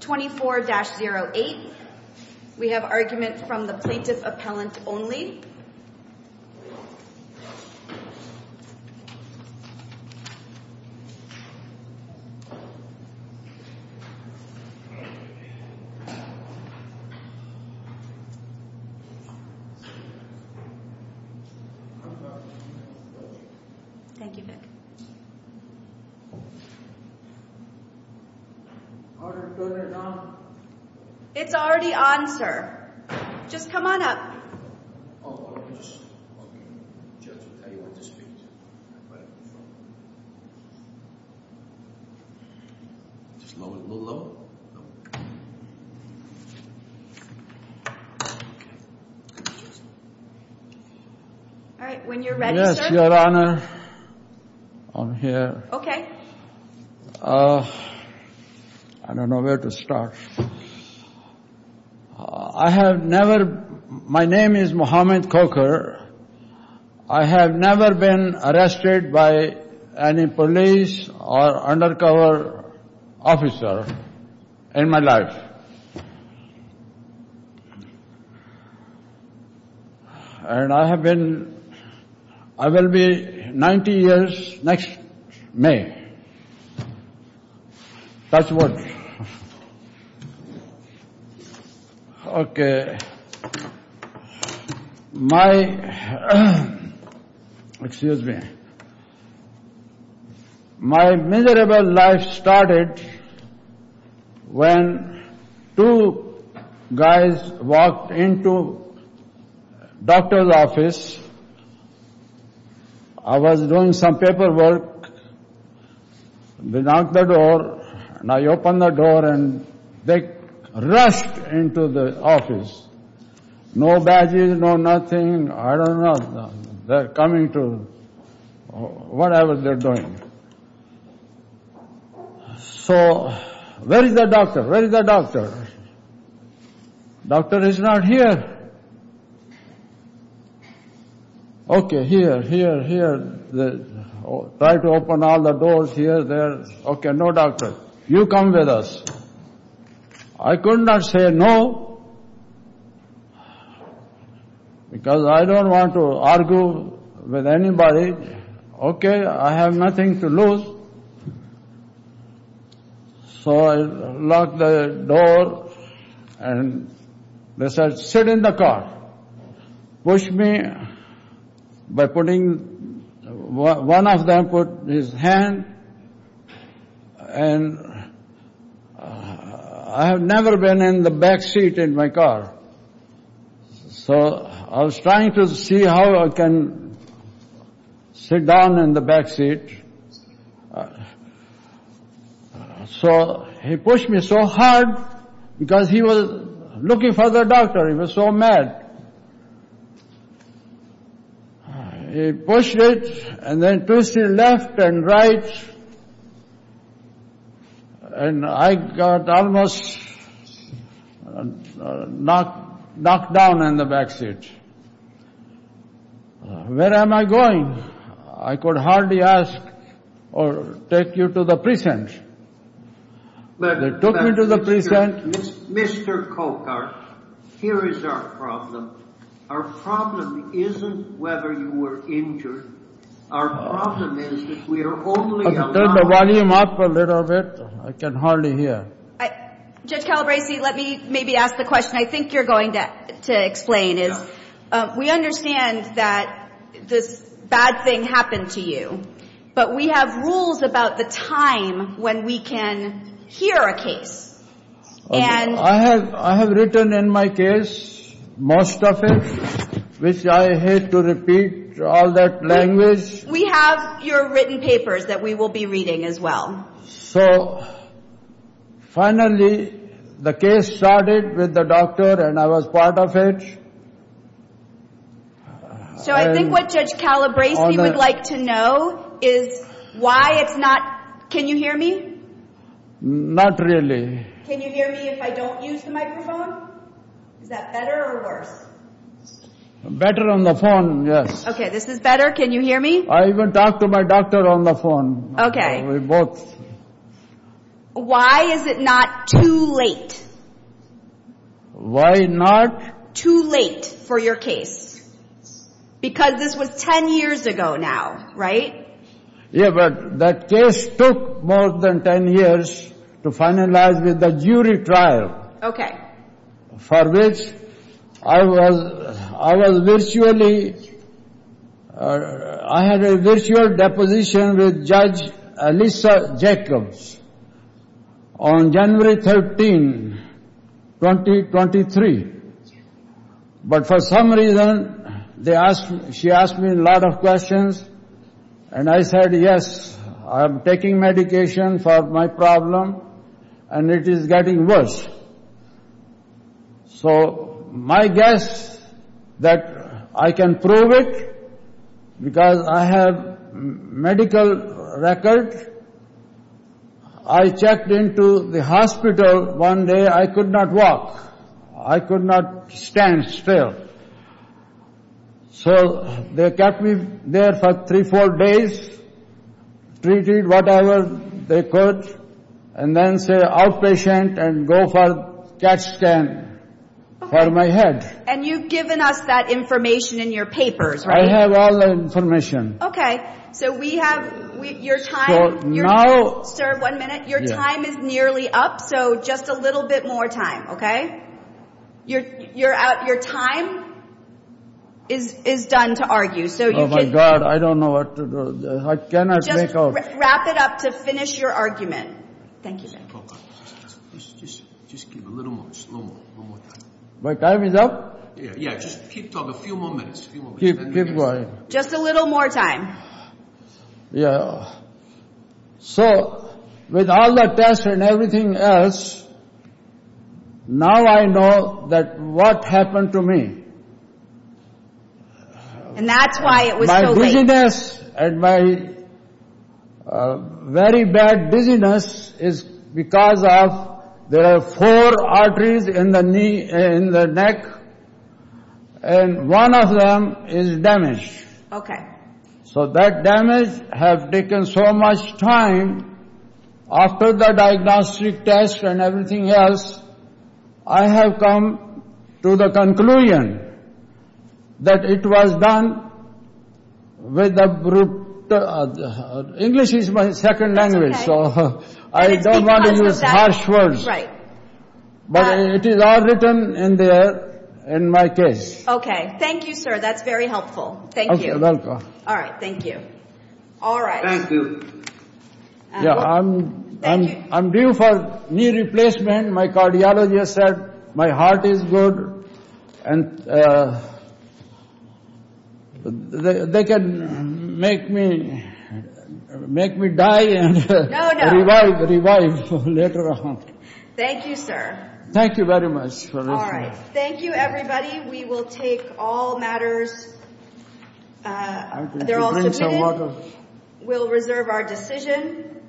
24-08. We have argument from the Plaintiff Appellant only. Thank you, Vic. It's already on, sir. Just come on up. I don't know where to start. I have never, my name is Mohammed Khokhar. I have never been arrested by any police or undercover officer in my life. And I have been, I will be 90 years next May. That's what. OK. My, excuse me, my miserable life started when two guys walked into doctor's office. I was doing some paperwork. They knocked the door and I opened the door and they rushed into the office. No badges, no nothing. I don't know. They are coming to whatever they are doing. So, where is the doctor? Where is the doctor? Doctor is not here. OK, here, here, here. Try to open all the doors here, there. OK, no doctor. You come with us. I could not say no, because I don't want to argue with anybody. OK, I have nothing to lose. So, I locked the door and they said, sit in the car. Push me by putting, one of them put his hand and I have never been in the backseat in my car. So, I was trying to see how I can sit down in the backseat. So, he pushed me so hard because he was looking for the doctor. He was so mad. He pushed it and then pushed it left and right and I got almost knocked down in the backseat. Where am I going? I could hardly ask or take you to the prison. They took me to the prison. Mr. Cokart, here is our problem. Our problem isn't whether you were injured. Our problem is that we are only allowing... Turn the volume up a little bit. I can hardly hear. Judge Calabresi, let me maybe ask the question I think you are going to explain. We understand that this bad thing happened to you. But we have rules about the time when we can hear a case. I have written in my case, most of it, which I hate to repeat all that language. We have your written papers that we will be reading as well. So, finally the case started with the doctor and I was part of it. So, I think what Judge Calabresi would like to know is why it's not... Can you hear me? Not really. Can you hear me if I don't use the microphone? Is that better or worse? Better on the phone, yes. Okay, this is better. Can you hear me? I even talked to my doctor on the phone. Okay. We both... Why is it not too late? Why not? Too late for your case. Because this was 10 years ago now, right? Yeah, but that case took more than 10 years to finalize with the jury trial. Okay. For which I was virtually... I had a virtual deposition with Judge Alyssa Jacobs on January 13, 2023. But for some reason, she asked me a lot of questions and I said, Yes, I am taking medication for my problem and it is getting worse. So, my guess that I can prove it because I have medical record. I checked into the hospital one day, I could not walk. I could not stand still. So, they kept me there for 3-4 days, treated whatever they could, and then say outpatient and go for CAT scan for my head. And you've given us that information in your papers, right? I have all the information. Okay, so we have your time... So, now... Sir, one minute. Your time is nearly up, so just a little bit more time, okay? Your time is done to argue. Oh my God, I don't know what to do. I cannot make out. Just wrap it up to finish your argument. Thank you. Just give a little more, just a little more time. My time is up? Yeah, just keep talking a few more minutes. Keep going. Just a little more time. Yeah. So, with all the tests and everything else, now I know that what happened to me. And that's why it was so late. My dizziness and my very bad dizziness is because of there are four arteries in the neck, and one of them is damaged. Okay. So, that damage has taken so much time. After the diagnostic test and everything else, I have come to the conclusion that it was done with a... English is my second language, so I don't want to use harsh words. But it is all written in there, in my case. Okay. Thank you, sir. That's very helpful. Thank you. You're welcome. All right. Thank you. All right. Thank you. Yeah, I'm due for knee replacement. My cardiologist said my heart is good, and they can make me die and revive later on. Thank you, sir. Thank you very much for listening. All right. Thank you, everybody. We will take all matters. They're all submitted. We'll reserve our decision.